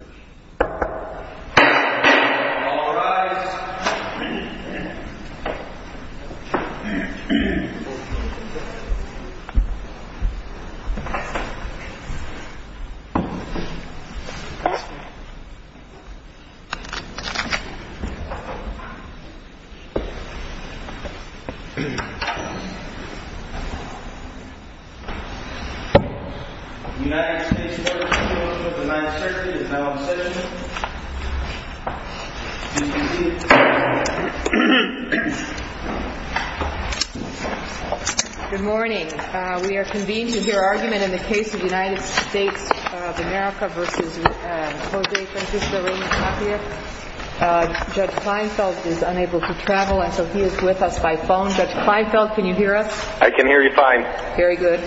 All rise. All rise. Good morning. We are convened to hear argument in the case of United States of America v. Jose Francisco Reyna-Tapia. Judge Kleinfeld is unable to travel, and so he is with us by phone. Judge Kleinfeld, can you hear us? I can hear you fine. Very good.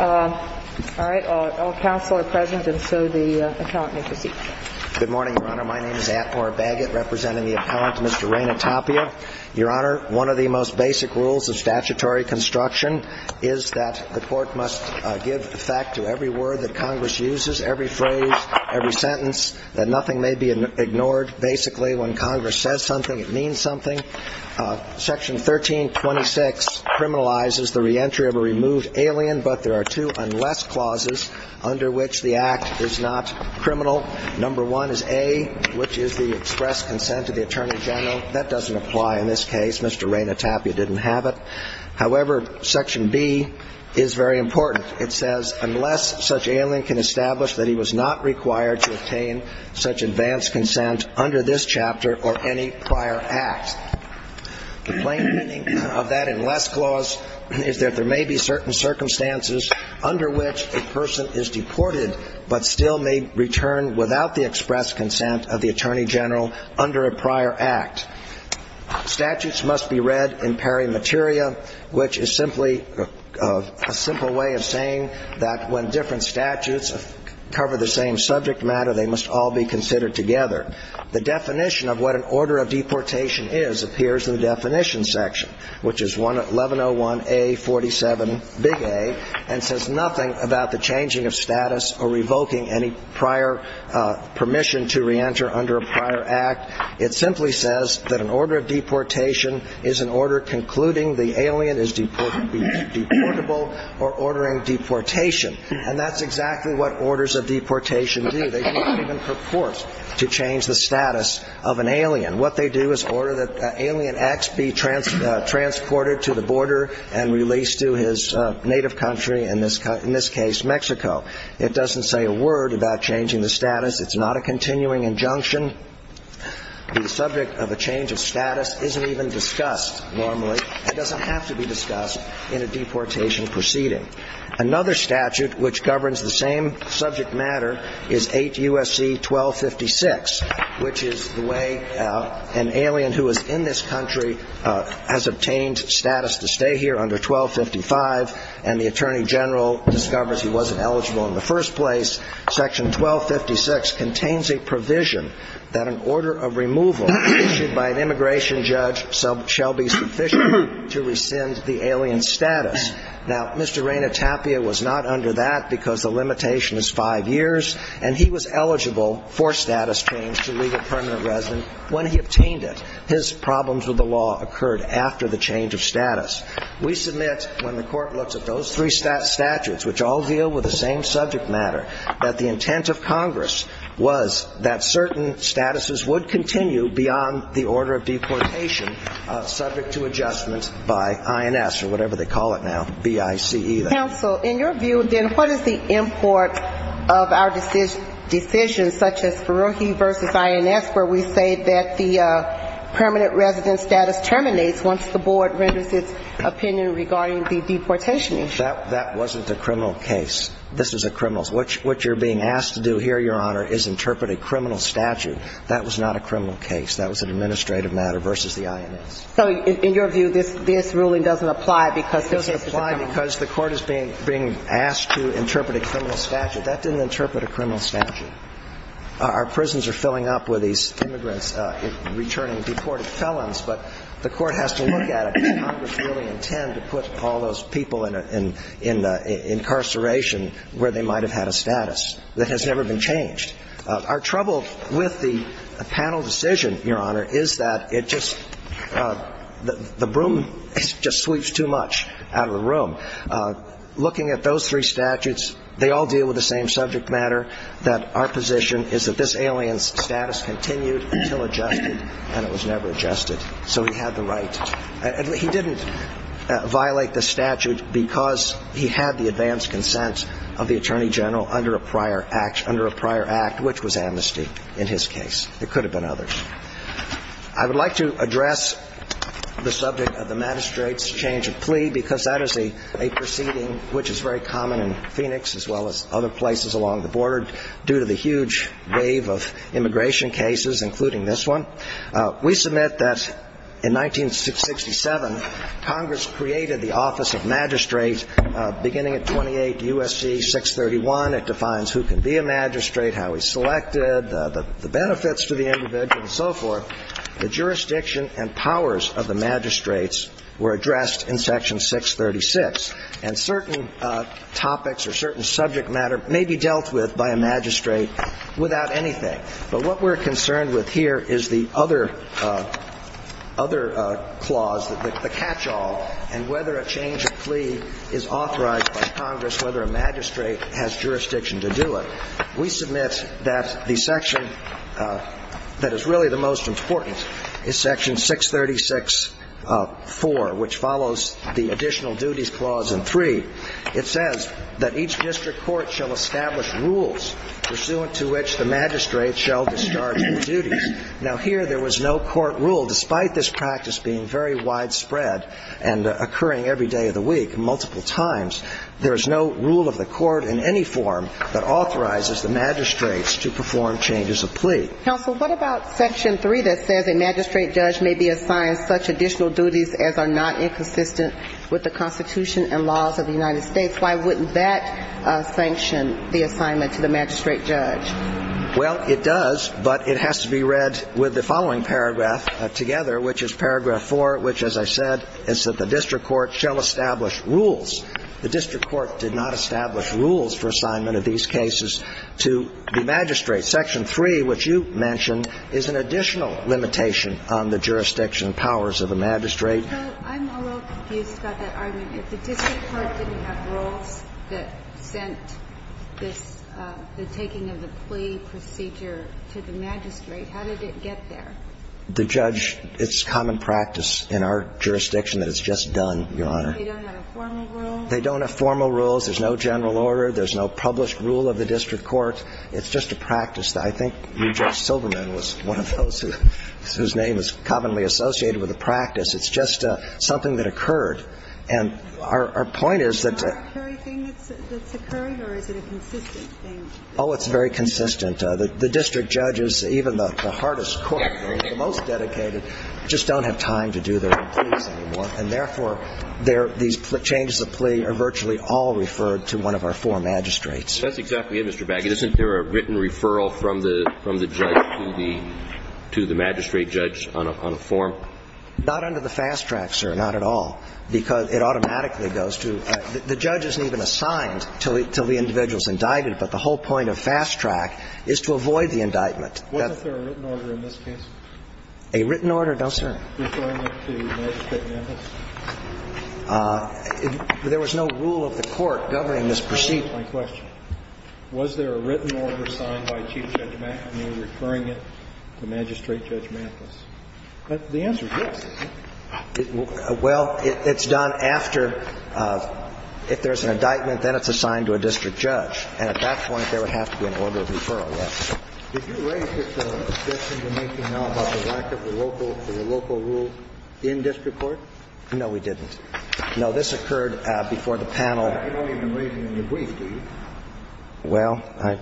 All right. All counsel are present, and so the appellant may proceed. Good morning, Your Honor. My name is Atmar Baggett, representing the appellant, Mr. Reyna-Tapia. Your Honor, one of the most basic rules of statutory construction is that the court must give effect to every word that Congress uses, every phrase, every sentence, that nothing may be ignored. Basically, when Congress says something, it means something. Section 1326 criminalizes the reentry of a removed alien, but there are two unless clauses under which the act is not criminal. Number one is A, which is the express consent of the attorney general. That doesn't apply in this case. Mr. Reyna-Tapia didn't have it. However, Section B is very important. It says unless such alien can establish that he was not required to obtain such advanced consent under this chapter or any prior act. The plain meaning of that unless clause is that there may be certain circumstances under which a person is deported but still may return without the express consent of the attorney general under a prior act. Statutes must be read in peri materia, which is simply a simple way of saying that when different statutes cover the same subject matter, they must all be considered together. The definition of what an order of deportation is appears in the definition section, which is 1101A.47, big A, and says nothing about the changing of status or revoking any prior permission to reenter under a prior act. It simply says that an order of deportation is an order concluding the alien is deportable or ordering deportation. And that's exactly what orders of deportation do. They don't even purport to change the status of an alien. What they do is order that alien X be transported to the border and released to his native country, in this case Mexico. It doesn't say a word about changing the status. It's not a continuing injunction. The subject of a change of status isn't even discussed normally. It doesn't have to be discussed in a deportation proceeding. Another statute which governs the same subject matter is 8 U.S.C. 1256, which is the way an alien who is in this country has obtained status to stay here under 1255, and the Attorney General discovers he wasn't eligible in the first place. Section 1256 contains a provision that an order of removal issued by an immigration judge shall be sufficient to rescind the alien's status. Now, Mr. Raina Tapia was not under that because the limitation is five years, and he was eligible for status change to legal permanent residence when he obtained it. His problems with the law occurred after the change of status. We submit when the Court looks at those three statutes, which all deal with the same subject matter, that the intent of Congress was that certain statuses would continue beyond the order of deportation subject to adjustment by INS, or whatever they call it now, BICE. Counsel, in your view, then, what is the import of our decision, such as Ferrohi versus INS, where we say that the permanent residence status terminates once the board renders its opinion regarding the deportation issue? That wasn't a criminal case. This is a criminal's. What you're being asked to do here, Your Honor, is interpret a criminal statute. That was not a criminal case. That was an administrative matter versus the INS. So in your view, this ruling doesn't apply because this is a criminal case? It doesn't apply because the Court is being asked to interpret a criminal statute. That didn't interpret a criminal statute. Our prisons are filling up with these immigrants returning deported felons, but the Court has to look at it. Does Congress really intend to put all those people in incarceration where they might have had a status? That has never been changed. Our trouble with the panel decision, Your Honor, is that it just doesn't apply. The broom just sweeps too much out of the room. Looking at those three statutes, they all deal with the same subject matter, that our position is that this alien status continued until adjusted, and it was never adjusted. So he had the right. He didn't violate the statute because he had the advanced consent of the Attorney General under a prior act, which was amnesty in his case. There could have been others. I would like to address the subject of the magistrate's change of plea, because that is a proceeding which is very common in Phoenix, as well as other places along the border, due to the huge wave of immigration cases, including this one. We submit that in 1967, Congress created the Office of Magistrate beginning at 28 U.S.C. 631. It defines who can be a magistrate, who can't be a magistrate, and so forth. The jurisdiction and powers of the magistrates were addressed in Section 636, and certain topics or certain subject matter may be dealt with by a magistrate without anything. But what we're concerned with here is the other clause, the catch-all, and whether a change of plea is authorized by Congress, whether a magistrate has jurisdiction to do it. We submit that the section that is really the most important in this case, the most important is Section 636.4, which follows the additional duties clause in 3. It says that each district court shall establish rules pursuant to which the magistrate shall discharge the duties. Now, here, there was no court rule. Despite this practice being very widespread and occurring every day of the week multiple times, there is no rule of the court in any form that authorizes the magistrates to perform changes of plea. Counsel, what about Section 3 that says a magistrate judge may be assigned such additional duties as are not inconsistent with the Constitution and laws of the United States? Why wouldn't that sanction the assignment to the magistrate judge? Well, it does, but it has to be read with the following paragraph together, which is Paragraph 4, which, as I said, is that the district court shall establish rules. The district court did not establish rules for assignment of these cases to the magistrate. Section 3, which you mentioned, is an additional limitation on the jurisdiction powers of the magistrate. So I'm a little confused about that argument. If the district court didn't have rules that sent this, the taking of the plea procedure to the magistrate, how did it get there? The judge, it's common practice in our jurisdiction that it's just done, Your Honor. They don't have a formal rule? They don't have formal rules. There's no general order. There's no published rule of the district court. It's just a practice. I think Judge Silberman was one of those whose name is commonly associated with the practice. It's just something that occurred. And our point is that the... Is it an arbitrary thing that's occurred, or is it a consistent thing? Oh, it's very consistent. The district judges, even the hardest court, the most dedicated, just don't have time to do their pleas anymore. And therefore, these changes of plea are virtually all referred to one of our four magistrates. That's exactly it, Mr. Baggett. Isn't there a written referral from the judge to the magistrate judge on a form? Not under the fast track, sir, not at all, because it automatically goes to the judge isn't even assigned until the individual is indicted. But the whole point of fast track is to avoid the indictment. Wasn't there a written order in this case? A written order? No, sir. Was there a written order referring it to Magistrate Memphis? There was no rule of the Court governing this proceed. Answer my question. Was there a written order signed by Chief Judge McNamee referring it to Magistrate Judge Memphis? The answer is yes. Well, it's done after, if there's an indictment, then it's assigned to a district judge. And at that point, there would have to be an order of referral, yes. Did you raise this objection we're making now about the lack of the local rule in district court? No, we didn't. No, this occurred before the panel. You're not even raising it in your brief, do you? Well,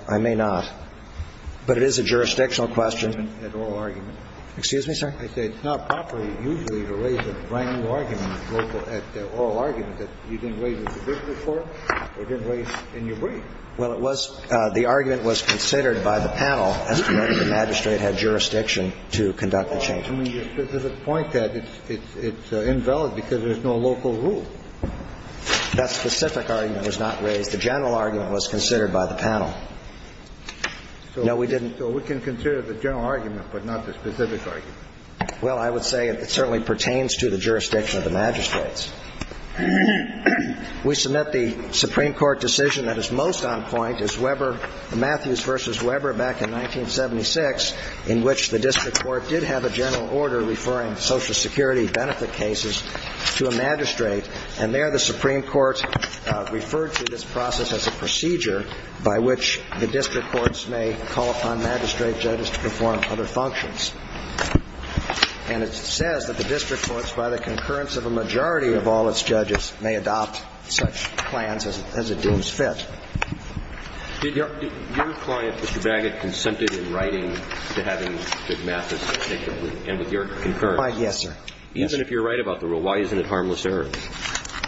I may not. But it is a jurisdictional question. It's an oral argument. Excuse me, sir? I say it's not properly usually to raise a brand-new argument at the oral argument that you didn't raise in the district court or didn't raise in your brief. Well, it was the argument was considered by the panel as to whether the magistrate had jurisdiction to conduct the change. But there's a point that it's invalid because there's no local rule. That specific argument was not raised. The general argument was considered by the panel. No, we didn't. So we can consider the general argument, but not the specific argument. Well, I would say it certainly pertains to the jurisdiction of the magistrates. We submit the Supreme Court decision that is most on point is Matthews v. Weber back in 1976, in which the district court did have a general order referring Social Security benefit cases to a magistrate. And there the Supreme Court referred to this process as a procedure by which the district courts may call upon magistrate judges to perform other functions. And it says that the district courts, by the concurrence of a majority of all its judges, may adopt such plans as it deems fit. Did your client, Mr. Baggett, consented in writing to having McMathis, and with your concurrence? Yes, sir. Even if you're right about the rule, why isn't it harmless error?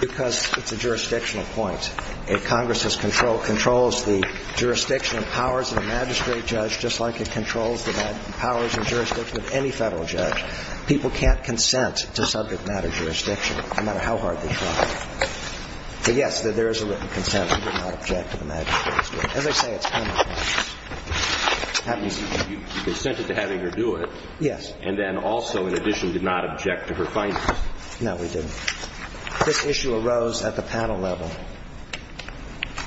Because it's a jurisdictional point. The point is that Congress has control of the jurisdiction and powers of the magistrate judge, just like it controls the powers and jurisdiction of any Federal judge. People can't consent to subject matter jurisdiction, no matter how hard they try. But, yes, there is a written consent. We did not object to the magistrate's doing it. As I say, it's harmless error. You consented to having her do it. Yes. And then also, in addition, did not object to her findings. No, we didn't. This issue arose at the panel level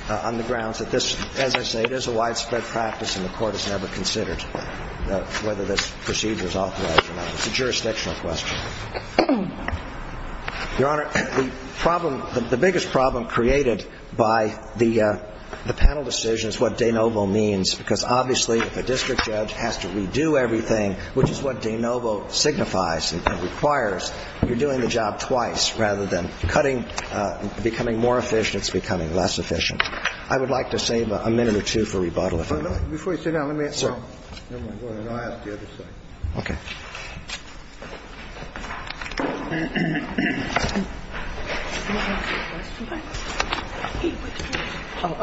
on the grounds that this, as I say, is a widespread practice and the Court has never considered whether this procedure is authorized or not. It's a jurisdictional question. Your Honor, the problem, the biggest problem created by the panel decision is what de novo means, because obviously if a district judge has to redo everything, which is what de novo signifies and requires, you're doing the job twice. Rather than cutting, becoming more efficient, it's becoming less efficient. I would like to save a minute or two for rebuttal, if I may. Before you sit down, let me ask you something. Okay.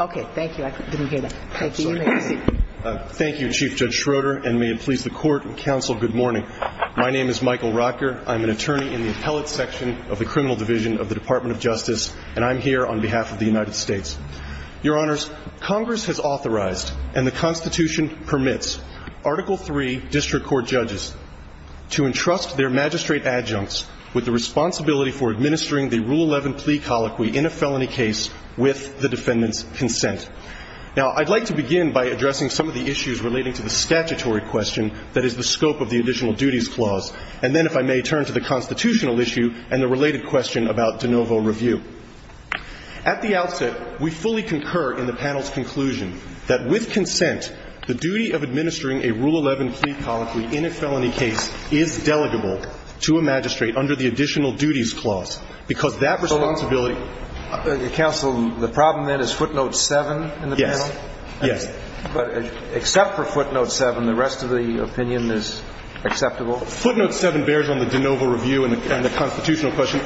Okay. Thank you. I didn't hear that. Thank you. You may proceed. Thank you, Chief Judge Schroeder, and may it please the Court and counsel, good morning. My name is Michael Rocker. I'm an attorney in the appellate section of the criminal division of the Department of Justice, and I'm here on behalf of the United States. Your Honors, Congress has authorized and the Constitution permits Article III district court judges to entrust their magistrate adjuncts with the responsibility for administering the Rule 11 plea colloquy in a felony case with the defendant's consent. Now, I'd like to begin by addressing some of the issues relating to the statutory question that is the scope of the additional duties clause. And then, if I may, turn to the constitutional issue and the related question about de novo review. At the outset, we fully concur in the panel's conclusion that with consent, the duty of administering a Rule 11 plea colloquy in a felony case is delegable to a magistrate under the additional duties clause, because that responsibility Counsel, the problem then is footnote 7 in the panel? Yes. Yes. But except for footnote 7, the rest of the opinion is acceptable? Footnote 7 bears on the de novo review and the constitutional question.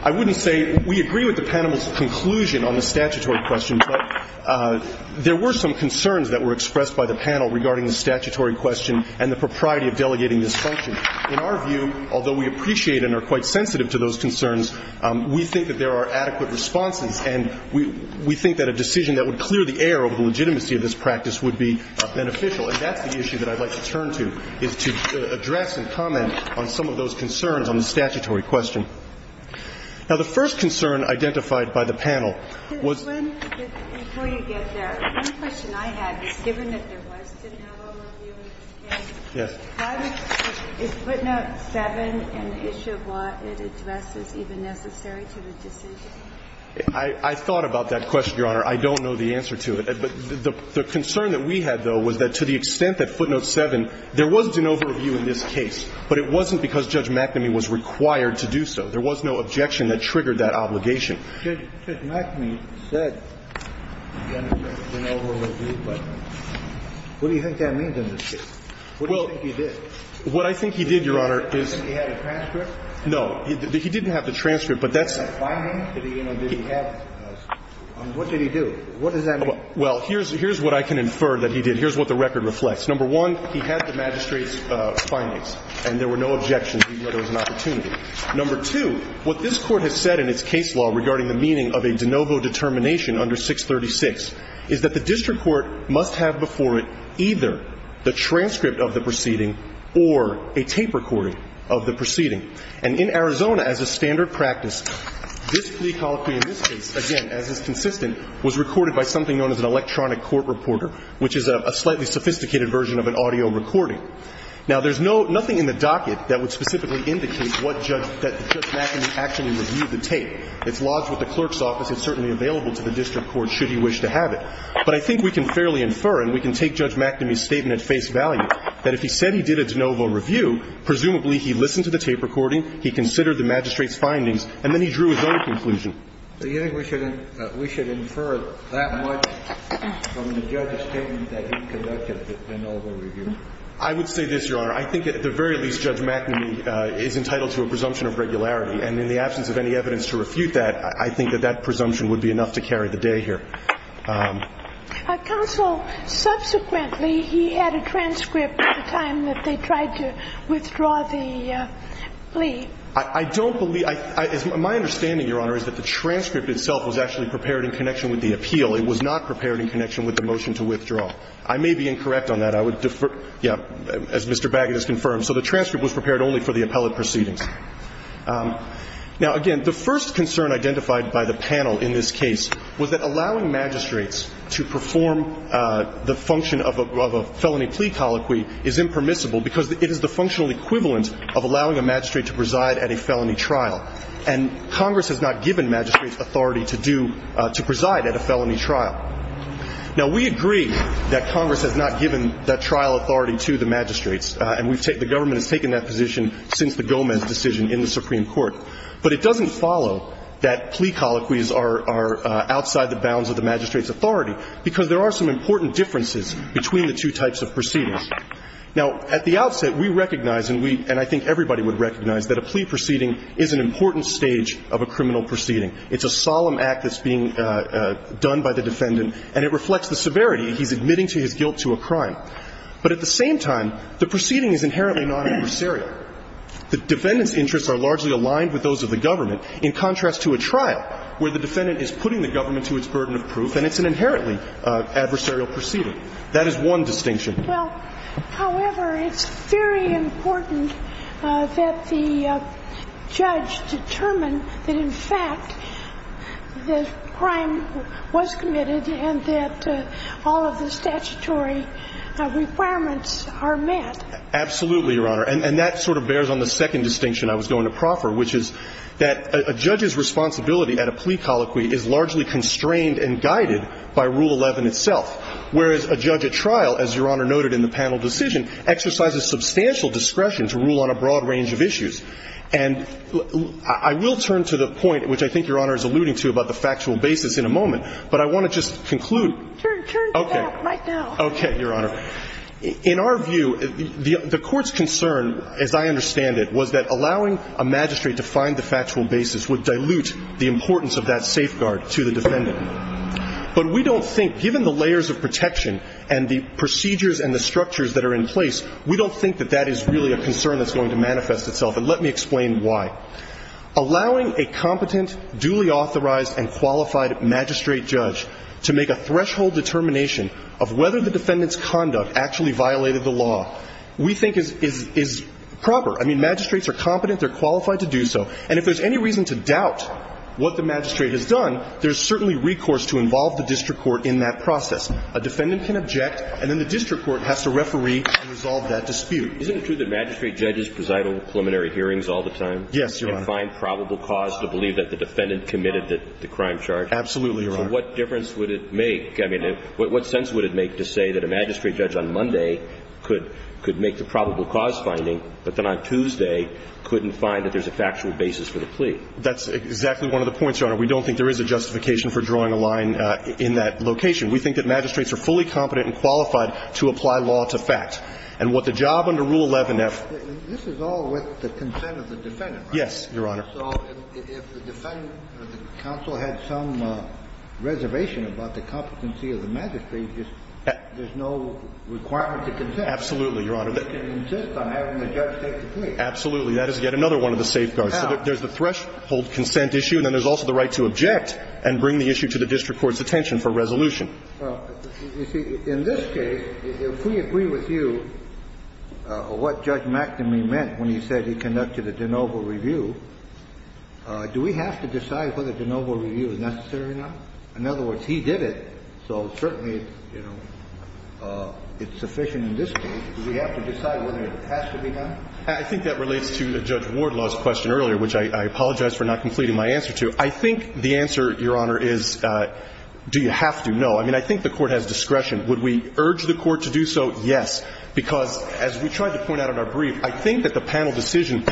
I wouldn't say we agree with the panel's conclusion on the statutory question, but there were some concerns that were expressed by the panel regarding the statutory question and the propriety of delegating this function. In our view, although we appreciate and are quite sensitive to those concerns, we think that there are adequate responses, and we think that a decision that would clear the air over the legitimacy of this practice would be beneficial. And that's the issue that I'd like to turn to, is to address and comment on some of those concerns on the statutory question. Now, the first concern identified by the panel was the one question I had was, given that there was de novo review in this case, is footnote 7 an issue of what it addresses even necessary to the decision? I thought about that question, Your Honor. I don't know the answer to it. But the concern that we had, though, was that to the extent that footnote 7, there was de novo review in this case, but it wasn't because Judge McNamee was required to do so. There was no objection that triggered that obligation. Judge McNamee said there was de novo review, but what do you think that means in this case? What do you think he did? Well, what I think he did, Your Honor, is he had a transcript? No. He didn't have the transcript, but that's the point. Did he have a finding? What did he do? What does that mean? Well, here's what I can infer that he did. Here's what the record reflects. Number one, he had the magistrate's findings, and there were no objections. He knew there was an opportunity. Number two, what this Court has said in its case law regarding the meaning of a de novo determination under 636 is that the district court must have before it either the transcript of the proceeding or a tape recording of the proceeding. And in Arizona, as a standard practice, this plea colloquy in this case, again, as is consistent, was recorded by something known as an electronic court reporter, which is a slightly sophisticated version of an audio recording. Now, there's no – nothing in the docket that would specifically indicate what judge – that Judge McNamee actually reviewed the tape. It's lodged with the clerk's office. It's certainly available to the district court should he wish to have it. But I think we can fairly infer, and we can take Judge McNamee's statement at face value, that if he said he did a de novo review, presumably he listened to the tape recording, he considered the magistrate's findings, and then he drew his own conclusion. So you think we should – we should infer that much from the judge's statement that he conducted the de novo review? I would say this, Your Honor. I think at the very least, Judge McNamee is entitled to a presumption of regularity, and in the absence of any evidence to refute that, I think that that presumption would be enough to carry the day here. Counsel, subsequently, he had a transcript at the time that they tried to withdraw the plea. I don't believe – my understanding, Your Honor, is that the transcript itself was actually prepared in connection with the appeal. It was not prepared in connection with the motion to withdraw. I may be incorrect on that. I would defer – yeah, as Mr. Baggett has confirmed. So the transcript was prepared only for the appellate proceedings. Now, again, the first concern identified by the panel in this case was that allowing magistrates to perform the function of a felony plea colloquy is impermissible because it is the functional equivalent of allowing a magistrate to preside at a felony trial, and Congress has not given magistrates authority to do – to preside at a felony trial. Now, we agree that Congress has not given that trial authority to the magistrates, and we've – the government has taken that position since the Gomez decision in the Supreme Court. But it doesn't follow that plea colloquies are outside the bounds of the magistrate's authority because there are some important differences between the two types of proceedings. Now, at the outset, we recognize, and we – and I think everybody would recognize that a plea proceeding is an important stage of a criminal proceeding. It's a solemn act that's being done by the defendant, and it reflects the severity he's admitting to his guilt to a crime. But at the same time, the proceeding is inherently non-adversarial. The defendant's interests are largely aligned with those of the government in contrast to a trial where the defendant is putting the government to its burden of proof and it's an inherently adversarial proceeding. That is one distinction. Well, however, it's very important that the judge determine that, in fact, the crime was committed and that all of the statutory requirements are met. Absolutely, Your Honor. And that sort of bears on the second distinction I was going to proffer, which is that a judge's responsibility at a plea colloquy is largely constrained and guided by Rule 11 itself, whereas a judge at trial, as Your Honor noted in the panel decision, exercises substantial discretion to rule on a broad range of issues. And I will turn to the point, which I think Your Honor is alluding to, about the factual basis in a moment, but I want to just conclude. Turn to that right now. Okay. Okay, Your Honor. In our view, the Court's concern, as I understand it, was that allowing a magistrate to find the factual basis would dilute the importance of that safeguard to the defendant. But we don't think, given the layers of protection and the procedures and the structures that are in place, we don't think that that is really a concern that's going to manifest itself. And let me explain why. Allowing a competent, duly authorized and qualified magistrate judge to make a threshold determination of whether the defendant's conduct actually violated the law, we think, is proper. I mean, magistrates are competent. They're qualified to do so. And if there's any reason to doubt what the magistrate has done, there's certainly recourse to involve the district court in that process. A defendant can object, and then the district court has to referee and resolve that dispute. Isn't it true that magistrate judges preside over preliminary hearings all the time? Yes, Your Honor. And find probable cause to believe that the defendant committed the crime charge? Absolutely, Your Honor. So what difference would it make? I mean, what sense would it make to say that a magistrate judge on Monday could make the probable cause finding, but then on Tuesday couldn't find that there's a factual basis for the plea? That's exactly one of the points, Your Honor. We don't think there is a justification for drawing a line in that location. We think that magistrates are fully competent and qualified to apply law to fact. And what the job under Rule 11F ---- This is all with the consent of the defendant, right? Yes, Your Honor. So if the defendant or the counsel had some reservation about the competency of the magistrate, there's no requirement to consent? Absolutely, Your Honor. They can insist on having the judge take the plea. Absolutely. That is yet another one of the safeguards. So there's the threshold consent issue, and then there's also the right to object and bring the issue to the district court's attention for resolution. Well, you see, in this case, if we agree with you what Judge McNamee meant when he said he conducted a de novo review, do we have to decide whether de novo review is necessary or not? In other words, he did it, so certainly, you know, it's sufficient in this case. Do we have to decide whether it has to be done? I think that relates to Judge Wardlaw's question earlier, which I apologize for not completing my answer to. I think the answer, Your Honor, is do you have to? No. I mean, I think the Court has discretion. Would we urge the Court to do so? Yes, because as we tried to point out in our brief, I think that the panel decision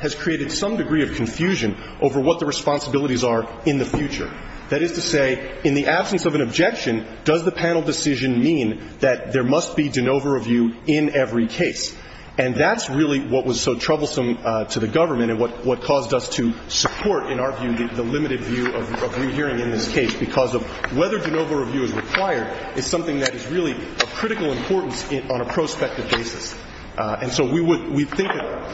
has created some degree of confusion over what the responsibilities are in the future. That is to say, in the absence of an objection, does the panel decision mean that there must be de novo review in every case? And that's really what was so troublesome to the government and what caused us to support, in our view, the limited view of rehearing in this case, because of whether de novo review is required is something that is really of critical importance on a prospective basis. And so we think that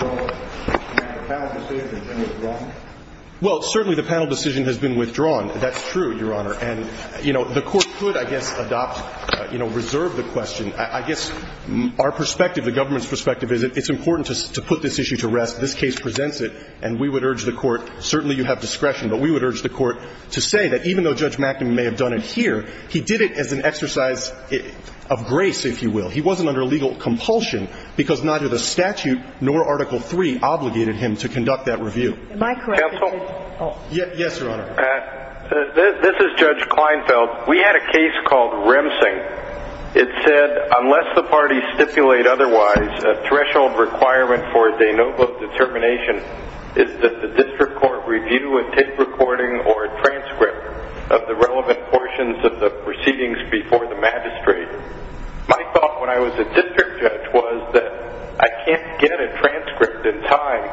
the panel decision has been withdrawn. That's true, Your Honor. And, you know, the Court could, I guess, adopt, you know, reserve the question. I guess our perspective, the government's perspective, is it's important to put this issue to rest. This case presents it. And we would urge the Court, certainly you have discretion, but we would urge the Court to say that even though Judge McNamara may have done it here, he did it as an exercise of grace, if you will. He wasn't under legal compulsion, because neither the statute nor Article III obligated him to conduct that review. Am I correct? Counsel? Yes, Your Honor. This is Judge Kleinfeld. We had a case called Remsing. It said, unless the parties stipulate otherwise, a threshold requirement for de novo determination is that the district court review a tape recording or a transcript of the relevant portions of the proceedings before the magistrate. My thought when I was a district judge was that I can't get a transcript in time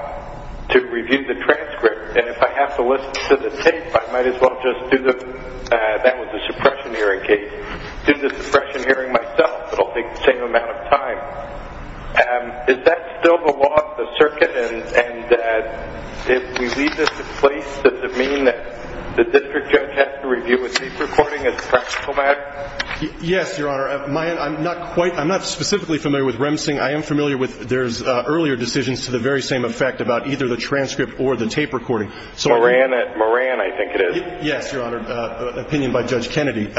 to review the transcript, and if I have to listen to the tape, I might as well just do the, that was the suppression hearing case, do the suppression hearing myself, but I'll take the same amount of time. Is that still the law of the circuit? And if we leave this in place, does it mean that the district judge has to review a tape recording as a practical matter? Yes, Your Honor. I'm not quite, I'm not specifically familiar with Remsing. I am familiar with, there's earlier decisions to the very same effect about either the transcript or the tape recording. Moran, I think it is. Yes, Your Honor, opinion by Judge Kennedy.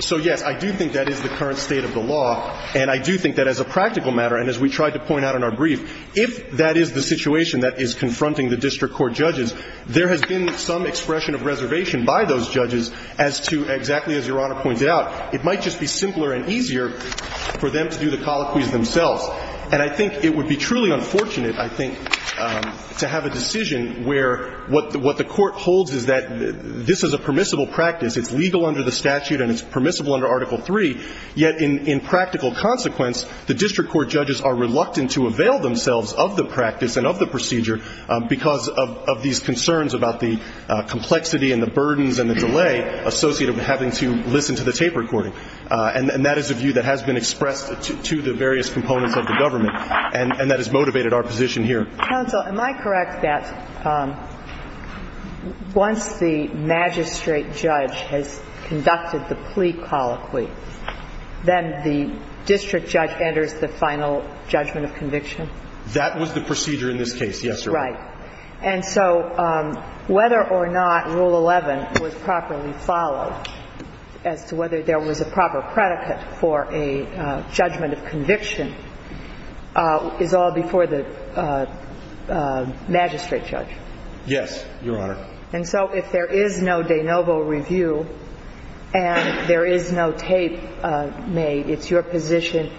So, yes, I do think that is the current state of the law, and I do think that as a practical matter, and as we tried to point out in our brief, if that is the situation that is confronting the district court judges, there has been some expression of reservation by those judges as to, exactly as Your Honor pointed out, it might just be simpler and easier for them to do the colloquies themselves. And I think it would be truly unfortunate, I think, to have a decision where what the court holds is that this is a permissible practice, it's legal under the statute and it's permissible under Article III, yet in practical consequence, the district court judges are reluctant to avail themselves of the practice and of the procedure because of these concerns about the complexity and the burdens and the delay associated with having to listen to the tape recording. And that is a view that has been expressed to the various components of the government, and that has motivated our position here. Counsel, am I correct that once the magistrate judge has conducted the plea colloquy, then the district judge enters the final judgment of conviction? That was the procedure in this case, yes, Your Honor. Right. And so whether or not Rule 11 was properly followed as to whether there was a proper predicate for a judgment of conviction is all before the magistrate judge? Yes, Your Honor. And so if there is no de novo review and there is no tape made, it's your position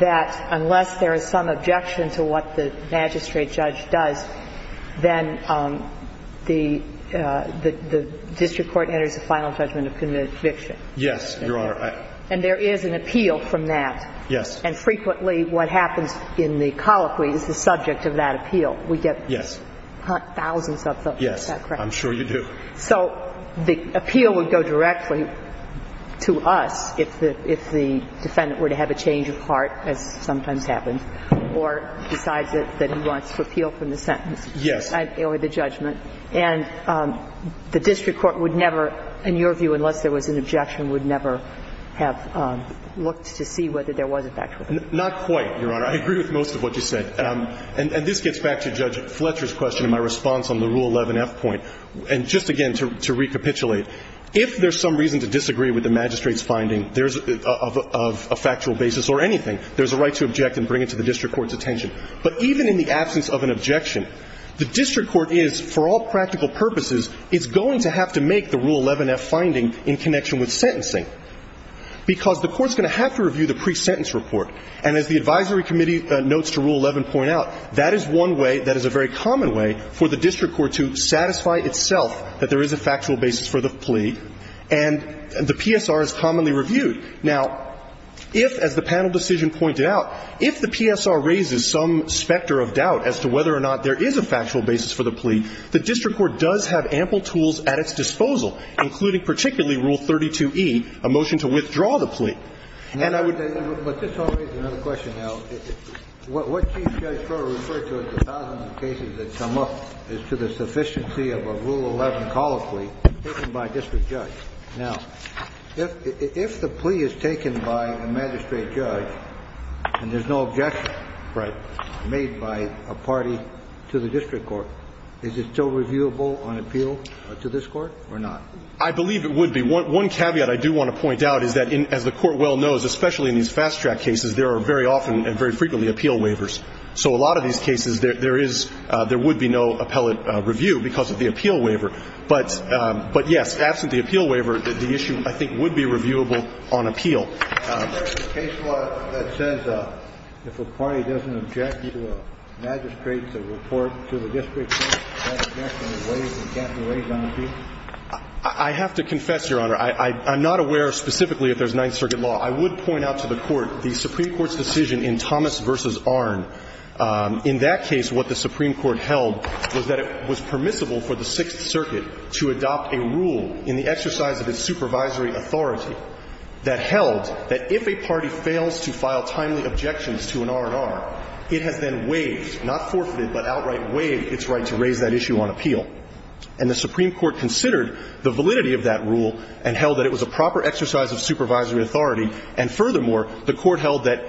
that unless there is some objection to what the magistrate judge does, then the district court enters the final judgment of conviction? Yes, Your Honor. And there is an appeal from that? Yes. And frequently what happens in the colloquy is the subject of that appeal. Yes. We get thousands of those, is that correct? Yes. I'm sure you do. So the appeal would go directly to us if the defendant were to have a change of heart, as sometimes happens, or decides that he wants to appeal from the sentence. Or the judgment. And the district court would never, in your view, unless there was an objection, would never have looked to see whether there was a factual judgment. Not quite, Your Honor. I agree with most of what you said. And this gets back to Judge Fletcher's question in my response on the Rule 11f point. And just again, to recapitulate, if there's some reason to disagree with the magistrate's finding of a factual basis or anything, there's a right to object and bring it to the district court's attention. But even in the absence of an objection, the district court is, for all practical purposes, is going to have to make the Rule 11f finding in connection with sentencing because the court's going to have to review the pre-sentence report. And as the advisory committee notes to Rule 11 point out, that is one way that is a very common way for the district court to satisfy itself that there is a factual basis for the plea. And the PSR is commonly reviewed. Now, if, as the panel decision pointed out, if the PSR raises some specter of doubt as to whether or not there is a factual basis for the plea, the district court does have ample tools at its disposal, including particularly Rule 32e, a motion to withdraw the plea. And I would say to you, but this raises another question now. What Chief Judge Crowe referred to as the thousands of cases that come up is to the sufficiency of a Rule 11 call of plea taken by a district judge. Now, if the plea is taken by a magistrate judge and there's no objection made by a party to the district court, is it still reviewable on appeal to this Court or not? I believe it would be. One caveat I do want to point out is that, as the Court well knows, especially in these fast-track cases, there are very often and very frequently appeal waivers. So a lot of these cases, there is – there would be no appellate review because of the appeal waiver. But, yes, absent the appeal waiver, the issue, I think, would be reviewable on appeal. Is there a case law that says if a party doesn't object to a magistrate's report to the district court, that objection is waived and can't be waived on appeal? I have to confess, Your Honor. I'm not aware specifically if there's Ninth Circuit law. I would point out to the Court the Supreme Court's decision in Thomas v. Arnn. In that case, what the Supreme Court held was that it was permissible for the Sixth Circuit to adopt a rule in the exercise of its supervisory authority that held that if a party fails to file timely objections to an R&R, it has then waived, not forfeited, but outright waived its right to raise that issue on appeal. And the Supreme Court considered the validity of that rule and held that it was a proper exercise of supervisory authority. And furthermore, the Court held that,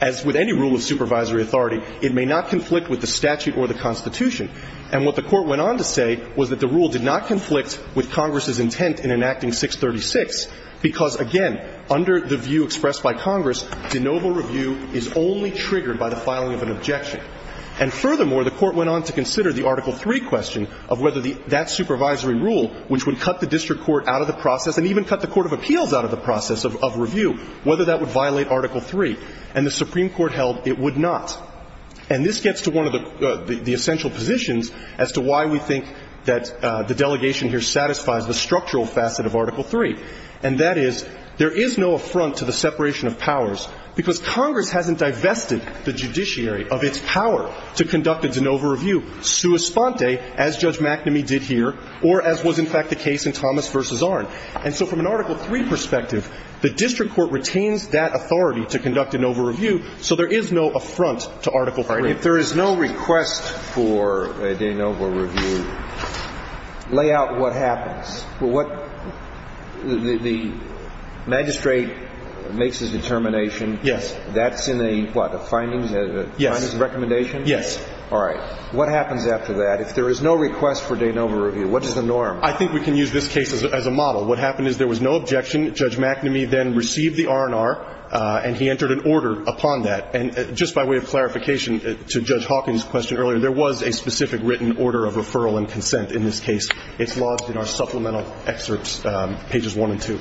as with any rule of supervisory authority, it may not conflict with the statute or the Constitution. And what the Court went on to say was that the rule did not conflict with Congress's intent in enacting 636, because, again, under the view expressed by Congress, de novo review is only triggered by the filing of an objection. And furthermore, the Court went on to consider the Article III question of whether the – that supervisory rule, which would cut the district court out of the process and even cut the court of appeals out of the process of review, whether that would violate Article III. And the Supreme Court held it would not. And this gets to one of the essential positions as to why we think that the delegation here satisfies the structural facet of Article III, and that is there is no affront to the separation of powers because Congress hasn't divested the judiciary of its power to conduct a de novo review sua sponte, as Judge McNamee did here, or as was in fact the case in Thomas v. Arnn. And so from an Article III perspective, the district court retains that authority to conduct a de novo review, so there is no affront to Article III. If there is no request for a de novo review, lay out what happens. The magistrate makes his determination. Yes. That's in a what, a findings recommendation? Yes. All right. What happens after that? If there is no request for de novo review, what is the norm? I think we can use this case as a model. What happened is there was no objection. Judge McNamee then received the R&R, and he entered an order upon that. And just by way of clarification to Judge Hawkins' question earlier, there was a specific written order of referral and consent in this case. It's lodged in our supplemental excerpts, pages 1 and 2.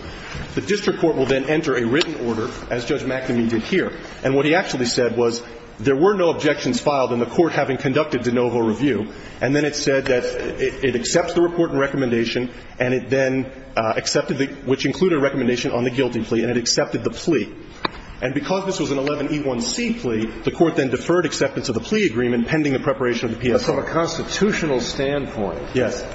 The district court will then enter a written order, as Judge McNamee did here. And what he actually said was there were no objections filed in the court having conducted de novo review, and then it said that it accepts the report and recommendation and it then accepted the, which included a recommendation on the guilty plea, and it accepted the plea. And because this was an 11E1C plea, the court then deferred acceptance of the plea agreement pending the preparation of the PSA. But from a constitutional standpoint. Yes.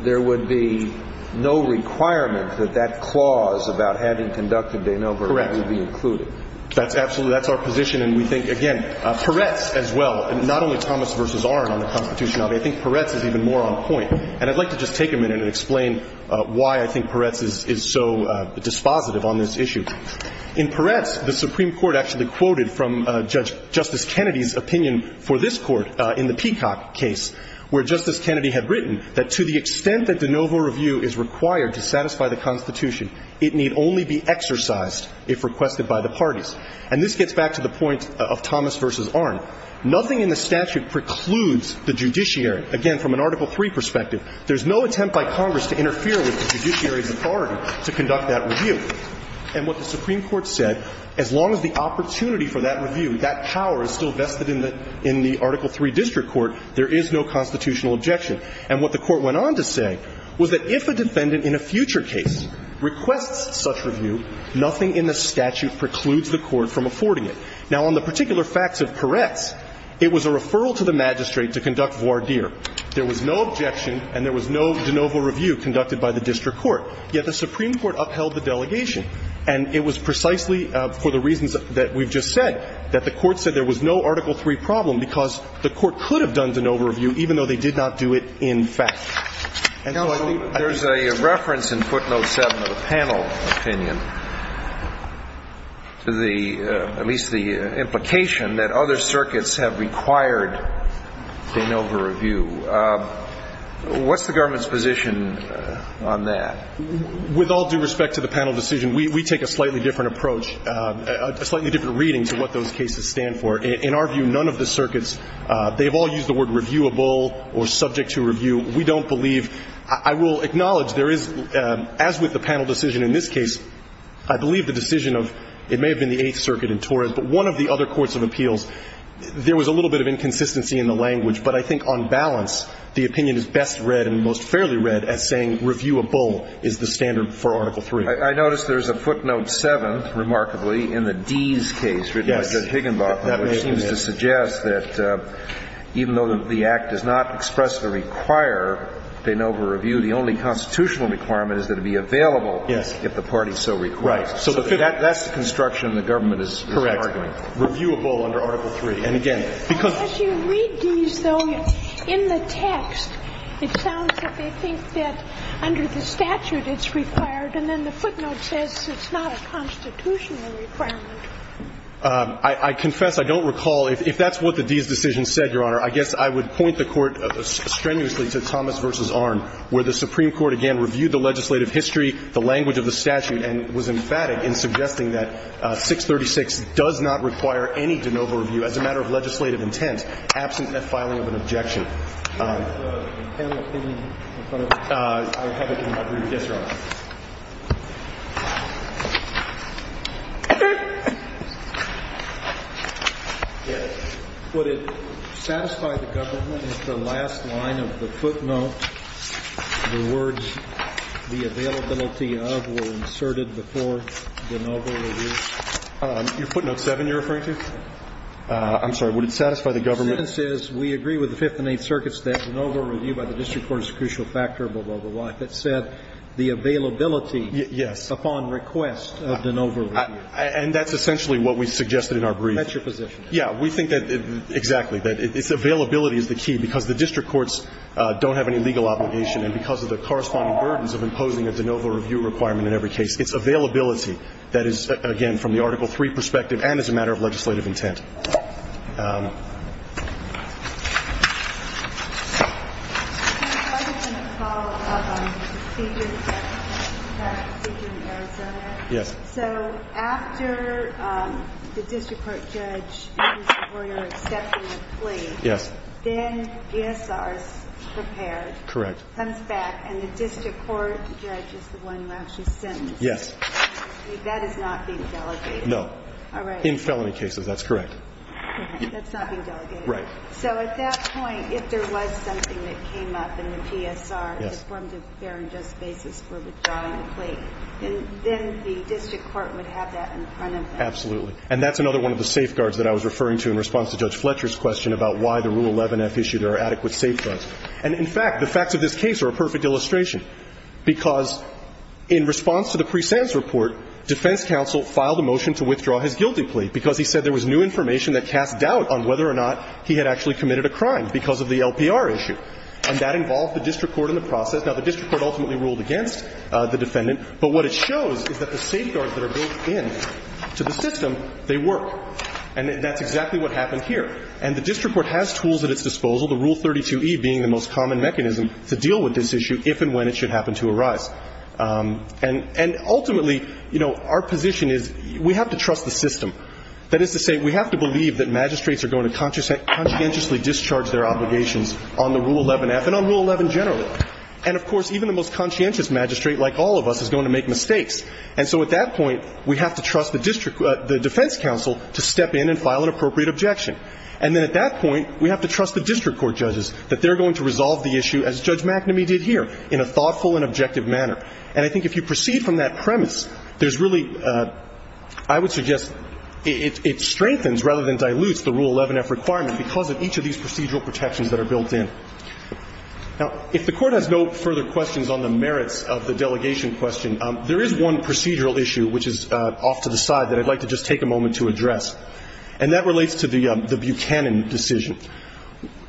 There would be no requirement that that clause about having conducted de novo review be included. Correct. That's absolutely, that's our position. And we think, again, Peretz as well, not only Thomas v. Arnn on the constitutional level, I think Peretz is even more on point. And I'd like to just take a minute and explain why I think Peretz is so dispositive on this issue. In Peretz, the Supreme Court actually quoted from Justice Kennedy's opinion for this court in the Peacock case, where Justice Kennedy had written that to the extent that de novo review is required to satisfy the Constitution, it need only be exercised if requested by the parties. And this gets back to the point of Thomas v. Arnn. Nothing in the statute precludes the judiciary. Again, from an Article III perspective, there's no attempt by Congress to interfere with the judiciary's authority to conduct that review. And what the Supreme Court said, as long as the opportunity for that review, that power is still vested in the Article III district court, there is no constitutional objection. And what the Court went on to say was that if a defendant in a future case requests such review, nothing in the statute precludes the court from affording it. Now, on the particular facts of Peretz, it was a referral to the magistrate to conduct voir dire. There was no objection and there was no de novo review conducted by the district court, yet the Supreme Court upheld the delegation. And it was precisely for the reasons that we've just said that the Court said there was no Article III problem because the Court could have done de novo review even though they did not do it in fact. Counsel, there's a reference in footnote 7 of the panel opinion to the, at least the implication that other circuits have required de novo review. What's the government's position on that? With all due respect to the panel decision, we take a slightly different approach, a slightly different reading to what those cases stand for. In our view, none of the circuits, they've all used the word reviewable or subject to review. We don't believe, I will acknowledge there is, as with the panel decision in this case, I believe the decision of, it may have been the Eighth Circuit in Torres, but one of the other courts of appeals, there was a little bit of inconsistency in the language. But I think on balance, the opinion is best read and most fairly read as saying reviewable is the standard for Article III. I notice there's a footnote 7, remarkably, in the Dees case written by Judge Higginbotham, which seems to suggest that even though the Act does not express the require de novo review, the only constitutional requirement is that it be available if the party so requires. So that's the construction the government is arguing. Correct. Reviewable under Article III. And again, because you read these, though, in the text, it sounds like they think that under the statute it's required, and then the footnote says it's not a constitutional requirement. I confess, I don't recall, if that's what the Dees decision said, Your Honor, I guess I would point the Court strenuously to Thomas v. Arnn, where the Supreme Court, again, reviewed the legislative history, the language of the statute, and was emphatic in suggesting that 636 does not require any de novo review as a matter of legislative intent, absent the filing of an objection. Would it satisfy the government if the last line of the footnote, the words the availability of, were inserted before de novo review? Your footnote 7 you're referring to? I'm sorry. Would it satisfy the government? We agree with the Fifth Amendment. We agree with the Fifth Amendment. The Fifth Amendment circuits that de novo review by the district court is a crucial factor, blah, blah, blah, blah. It said the availability upon request of de novo review. And that's essentially what we suggested in our brief. That's your position. Yeah. We think that, exactly, that availability is the key, because the district courts don't have any legal obligation, and because of the corresponding burdens of imposing a de novo review requirement in every case. It's availability that is, again, from the Article III perspective, and as a matter of legislative intent. I just want to follow up on the procedure in Arizona. Yes. So, after the district court judge written supporter accepts the plea, then GSR is prepared, comes back, and the district court judge is the one who actually sends it. Yes. That is not being delegated. No. All right. In felony cases, that's correct. That's not being delegated. Right. So, at that point, if there was something that came up in the PSR, a form of fair and just basis for withdrawing the plea, then the district court would have that in front of them. Absolutely. And that's another one of the safeguards that I was referring to in response to Judge Fletcher's question about why the Rule 11-F issued there are adequate safeguards. And, in fact, the facts of this case are a perfect illustration, because in response to the presense report, defense counsel filed a motion to withdraw his guilty plea because he said there was new information that cast doubt on whether or not he had actually committed a crime because of the LPR issue. And that involved the district court in the process. Now, the district court ultimately ruled against the defendant, but what it shows is that the safeguards that are built into the system, they work. And that's exactly what happened here. And the district court has tools at its disposal, the Rule 32-E being the most And ultimately, you know, our position is we have to trust the system. That is to say, we have to believe that magistrates are going to conscientiously discharge their obligations on the Rule 11-F and on Rule 11 generally. And, of course, even the most conscientious magistrate, like all of us, is going to make mistakes. And so at that point, we have to trust the district – the defense counsel to step in and file an appropriate objection. And then at that point, we have to trust the district court judges that they're going to resolve the issue as Judge McNamee did here, in a thoughtful and objective manner. And I think if you proceed from that premise, there's really – I would suggest it strengthens rather than dilutes the Rule 11-F requirement because of each of these procedural protections that are built in. Now, if the Court has no further questions on the merits of the delegation question, there is one procedural issue, which is off to the side, that I'd like to just take a moment to address. And that relates to the Buchanan decision.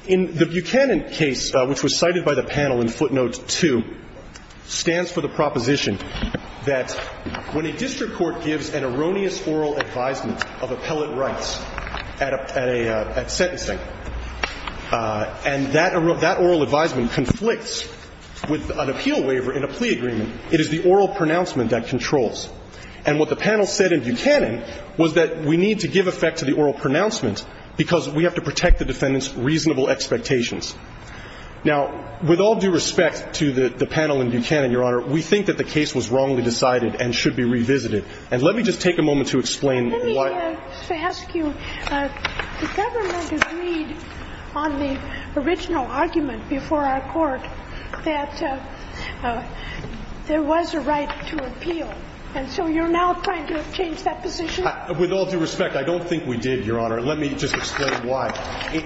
In the Buchanan case, which was cited by the panel in footnote 2, stands for the proposition that when a district court gives an erroneous oral advisement of appellate rights at a – at sentencing, and that – that oral advisement conflicts with an appeal waiver in a plea agreement, it is the oral pronouncement that controls. And what the panel said in Buchanan was that we need to give effect to the oral pronouncement because we have to protect the defendant's reasonable expectations. Now, with all due respect to the – the panel in Buchanan, Your Honor, we think that the case was wrongly decided and should be revisited. And let me just take a moment to explain why – Let me just ask you, the government agreed on the original argument before our court that there was a right to appeal. And so you're now trying to change that position? With all due respect, I don't think we did, Your Honor. Let me just explain why.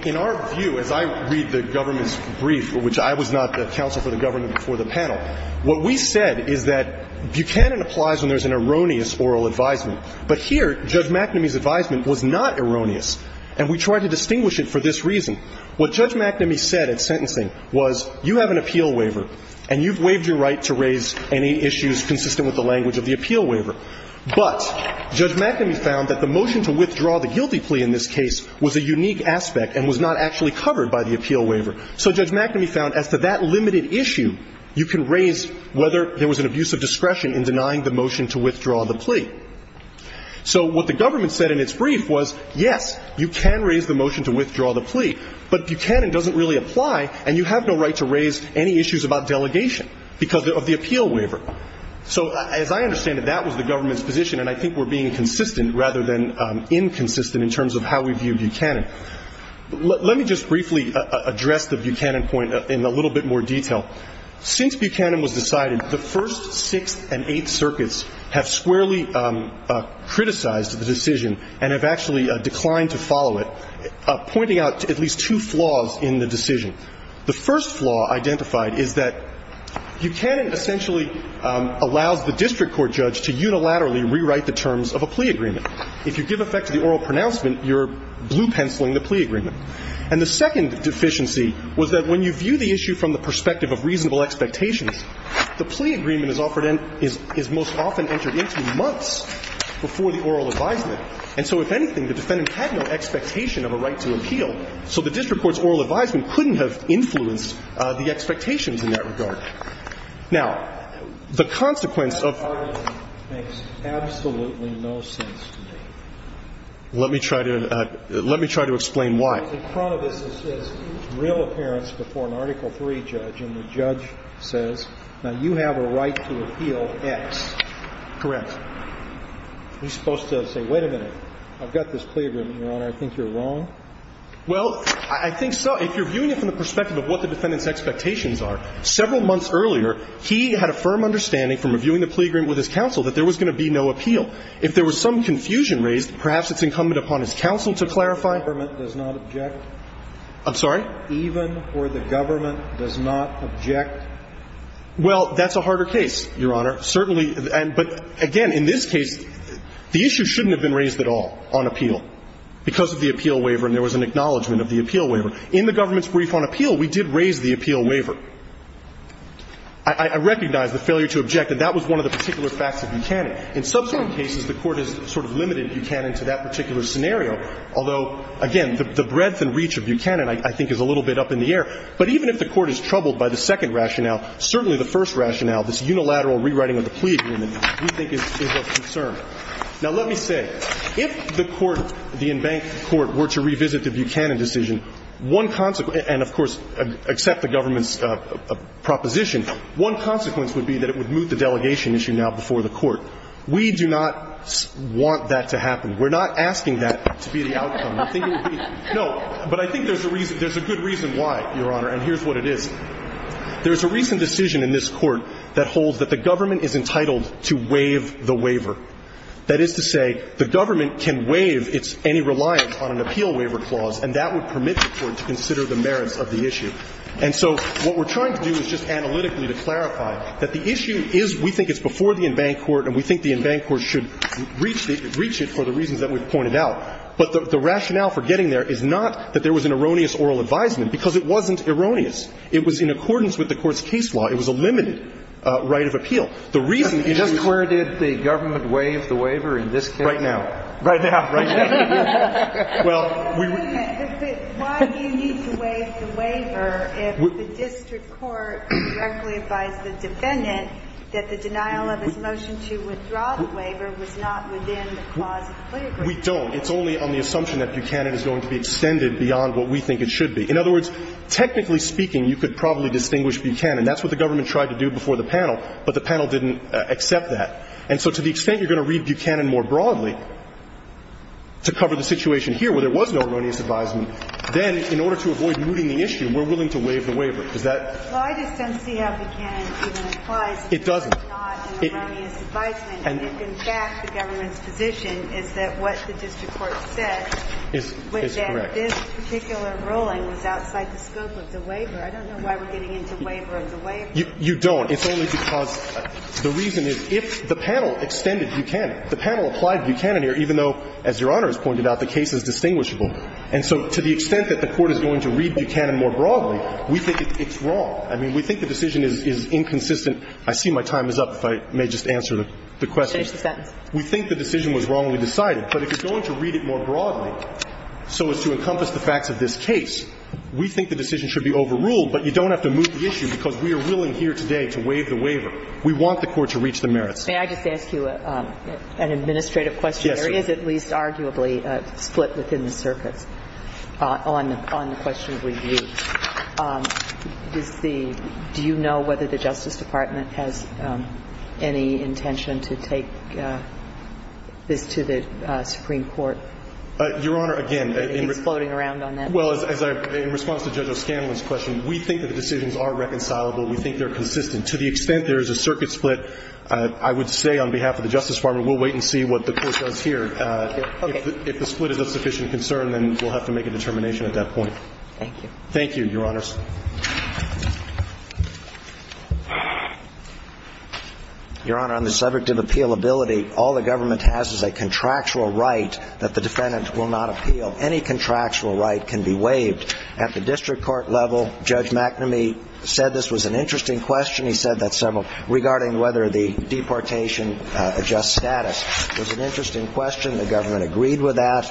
In our view, as I read the government's brief, for which I was not the counsel for the government before the panel, what we said is that Buchanan applies when there's an erroneous oral advisement. But here, Judge McNamee's advisement was not erroneous, and we tried to distinguish it for this reason. What Judge McNamee said at sentencing was you have an appeal waiver and you've waived your right to raise any issues consistent with the language of the appeal waiver. But Judge McNamee found that the motion to withdraw the guilty plea in this case was a unique aspect and was not actually covered by the appeal waiver. So Judge McNamee found as to that limited issue, you can raise whether there was an abuse of discretion in denying the motion to withdraw the plea. So what the government said in its brief was, yes, you can raise the motion to withdraw the plea, but Buchanan doesn't really apply and you have no right to raise any issues about delegation because of the appeal waiver. So as I understand it, that was the government's position, and I think we're being consistent rather than inconsistent in terms of how we view Buchanan. Let me just briefly address the Buchanan point in a little bit more detail. Since Buchanan was decided, the first, sixth, and eighth circuits have squarely criticized the decision and have actually declined to follow it, pointing out at least two flaws in the decision. The first flaw identified is that Buchanan essentially allows the district court judge to unilaterally rewrite the terms of a plea agreement. If you give effect to the oral pronouncement, you're blue-penciling the plea agreement. And the second deficiency was that when you view the issue from the perspective of reasonable expectations, the plea agreement is offered in – is most often entered into months before the oral advisement. And so if anything, the defendant had no expectation of a right to appeal, so the plaintiff influenced the expectations in that regard. Now, the consequence of – The argument makes absolutely no sense to me. Let me try to – let me try to explain why. In front of us, it says real appearance before an Article III judge, and the judge says, now, you have a right to appeal X. Correct. You're supposed to say, wait a minute, I've got this plea agreement, Your Honor. I think you're wrong. Well, I think so. If you're viewing it from the perspective of what the defendant's expectations are, several months earlier, he had a firm understanding from reviewing the plea agreement with his counsel that there was going to be no appeal. If there was some confusion raised, perhaps it's incumbent upon his counsel to clarify. Even for the government does not object. I'm sorry? Even for the government does not object. Well, that's a harder case, Your Honor. Certainly – but again, in this case, the issue shouldn't have been raised at all on appeal because of the appeal waiver, and there was an acknowledgement of the appeal waiver. In the government's brief on appeal, we did raise the appeal waiver. I recognize the failure to object, and that was one of the particular facts of Buchanan. In subsequent cases, the Court has sort of limited Buchanan to that particular scenario, although, again, the breadth and reach of Buchanan, I think, is a little bit up in the air. But even if the Court is troubled by the second rationale, certainly the first rationale, this unilateral rewriting of the plea agreement, we think is of concern. Now, let me say, if the Court, the embanked Court, were to revisit the Buchanan decision, one consequence – and, of course, accept the government's proposition – one consequence would be that it would move the delegation issue now before the Court. We do not want that to happen. We're not asking that to be the outcome. I think it would be – no. But I think there's a reason – there's a good reason why, Your Honor, and here's what it is. There's a recent decision in this Court that holds that the government is entitled to waive the waiver. That is to say, the government can waive its any reliance on an appeal waiver clause, and that would permit the Court to consider the merits of the issue. And so what we're trying to do is just analytically to clarify that the issue is we think it's before the embanked Court and we think the embanked Court should reach it for the reasons that we've pointed out. But the rationale for getting there is not that there was an erroneous oral advisement because it wasn't erroneous. It was in accordance with the Court's case law. It was a limited right of appeal. The reason – Just where did the government waive the waiver in this case? Right now. Right now. Right now. Well, we – But why do you need to waive the waiver if the district court directly advised the defendant that the denial of his motion to withdraw the waiver was not within the clause of the waiver? We don't. It's only on the assumption that Buchanan is going to be extended beyond what we think it should be. In other words, technically speaking, you could probably distinguish Buchanan. That's what the government tried to do before the panel, but the panel didn't accept that. And so to the extent you're going to read Buchanan more broadly to cover the situation here where there was no erroneous advisement, then in order to avoid mooting the issue, we're willing to waive the waiver. Is that – Well, I just don't see how Buchanan even applies. It doesn't. It's not an erroneous advisement. And in fact, the government's position is that what the district court said was that this particular ruling was outside the scope of the waiver. I don't know why we're getting into waiver as a way of doing it. You don't. It's only because the reason is if the panel extended Buchanan, the panel applied Buchanan here, even though, as Your Honor has pointed out, the case is distinguishable. And so to the extent that the Court is going to read Buchanan more broadly, we think it's wrong. I mean, we think the decision is inconsistent. I see my time is up, if I may just answer the question. Change the sentence. We think the decision was wrong when we decided. But if you're going to read it more broadly so as to encompass the facts of this case, we think the decision should be overruled, but you don't have to move the issue because we are willing here today to waive the waiver. We want the Court to reach the merits. May I just ask you an administrative question? Yes, Your Honor. There is, at least arguably, a split within the circuits on the question of review. Does the – do you know whether the Justice Department has any intention to take this to the Supreme Court? Your Honor, again – It's floating around on that. Well, as I – in response to Judge O'Scanlan's question, we think that the decisions are reconcilable. We think they're consistent. To the extent there is a circuit split, I would say on behalf of the Justice Department, we'll wait and see what the Court does here. Okay. If the split is of sufficient concern, then we'll have to make a determination at that point. Thank you. Thank you, Your Honors. Your Honor, on the subjective appealability, all the government has is a contractual right that the defendant will not appeal. Any contractual right can be waived. At the district court level, Judge McNamee said this was an interesting question. He said that several – regarding whether the deportation adjusts status. It was an interesting question. The government agreed with that.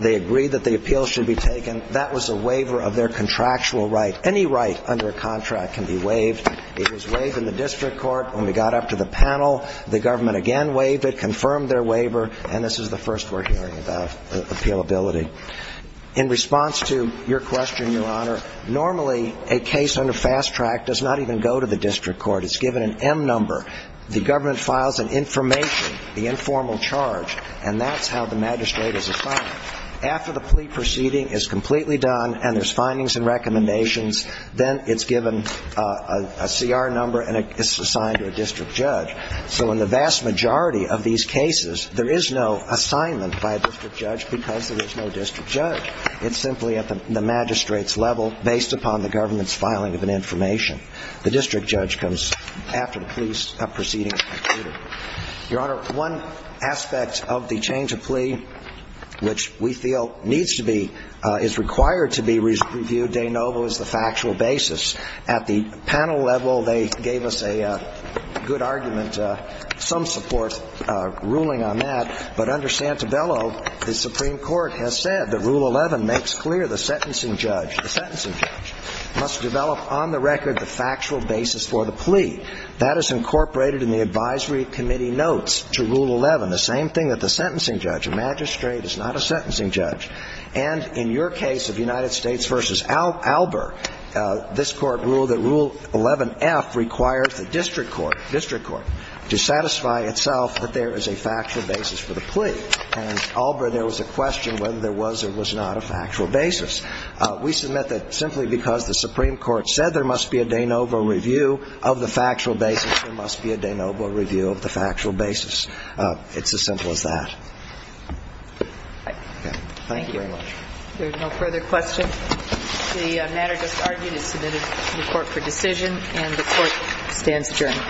They agreed that the appeal should be taken. That was a waiver of their contractual right. Any right under a contract can be waived. It was waived in the district court. When we got up to the panel, the government again waived it, confirmed their waiver, and this is the first we're hearing about appealability. In response to your question, Your Honor, normally a case under fast track does not even go to the district court. It's given an M number. The government files an information, the informal charge, and that's how the magistrate is assigned. After the plea proceeding is completely done and there's findings and recommendations, then it's given a CR number and it's assigned to a district judge. So in the vast majority of these cases, there is no assignment by a district judge because there is no district judge. It's simply at the magistrate's level based upon the government's filing of an information. The district judge comes after the plea proceeding is concluded. Your Honor, one aspect of the change of plea, which we feel needs to be – is required to be reviewed, de novo, is the factual basis. At the panel level, they gave us a good argument, some support ruling on that. But under Santabello, the Supreme Court has said that Rule 11 makes clear the sentencing judge, the sentencing judge must develop on the record the factual basis for the plea. That is incorporated in the advisory committee notes to Rule 11, the same thing that the sentencing judge. A magistrate is not a sentencing judge. And in your case of United States v. Albur, this Court ruled that Rule 11F requires the district court, district court, to satisfy itself that there is a factual basis for the plea. And in Albur, there was a question whether there was or was not a factual basis. We submit that simply because the Supreme Court said there must be a de novo review of the factual basis, there must be a de novo review of the factual basis. It's as simple as that. Thank you very much. There's no further questions. The matter just argued is submitted to the Court for decision, and the Court stands adjourned. Thank you very much.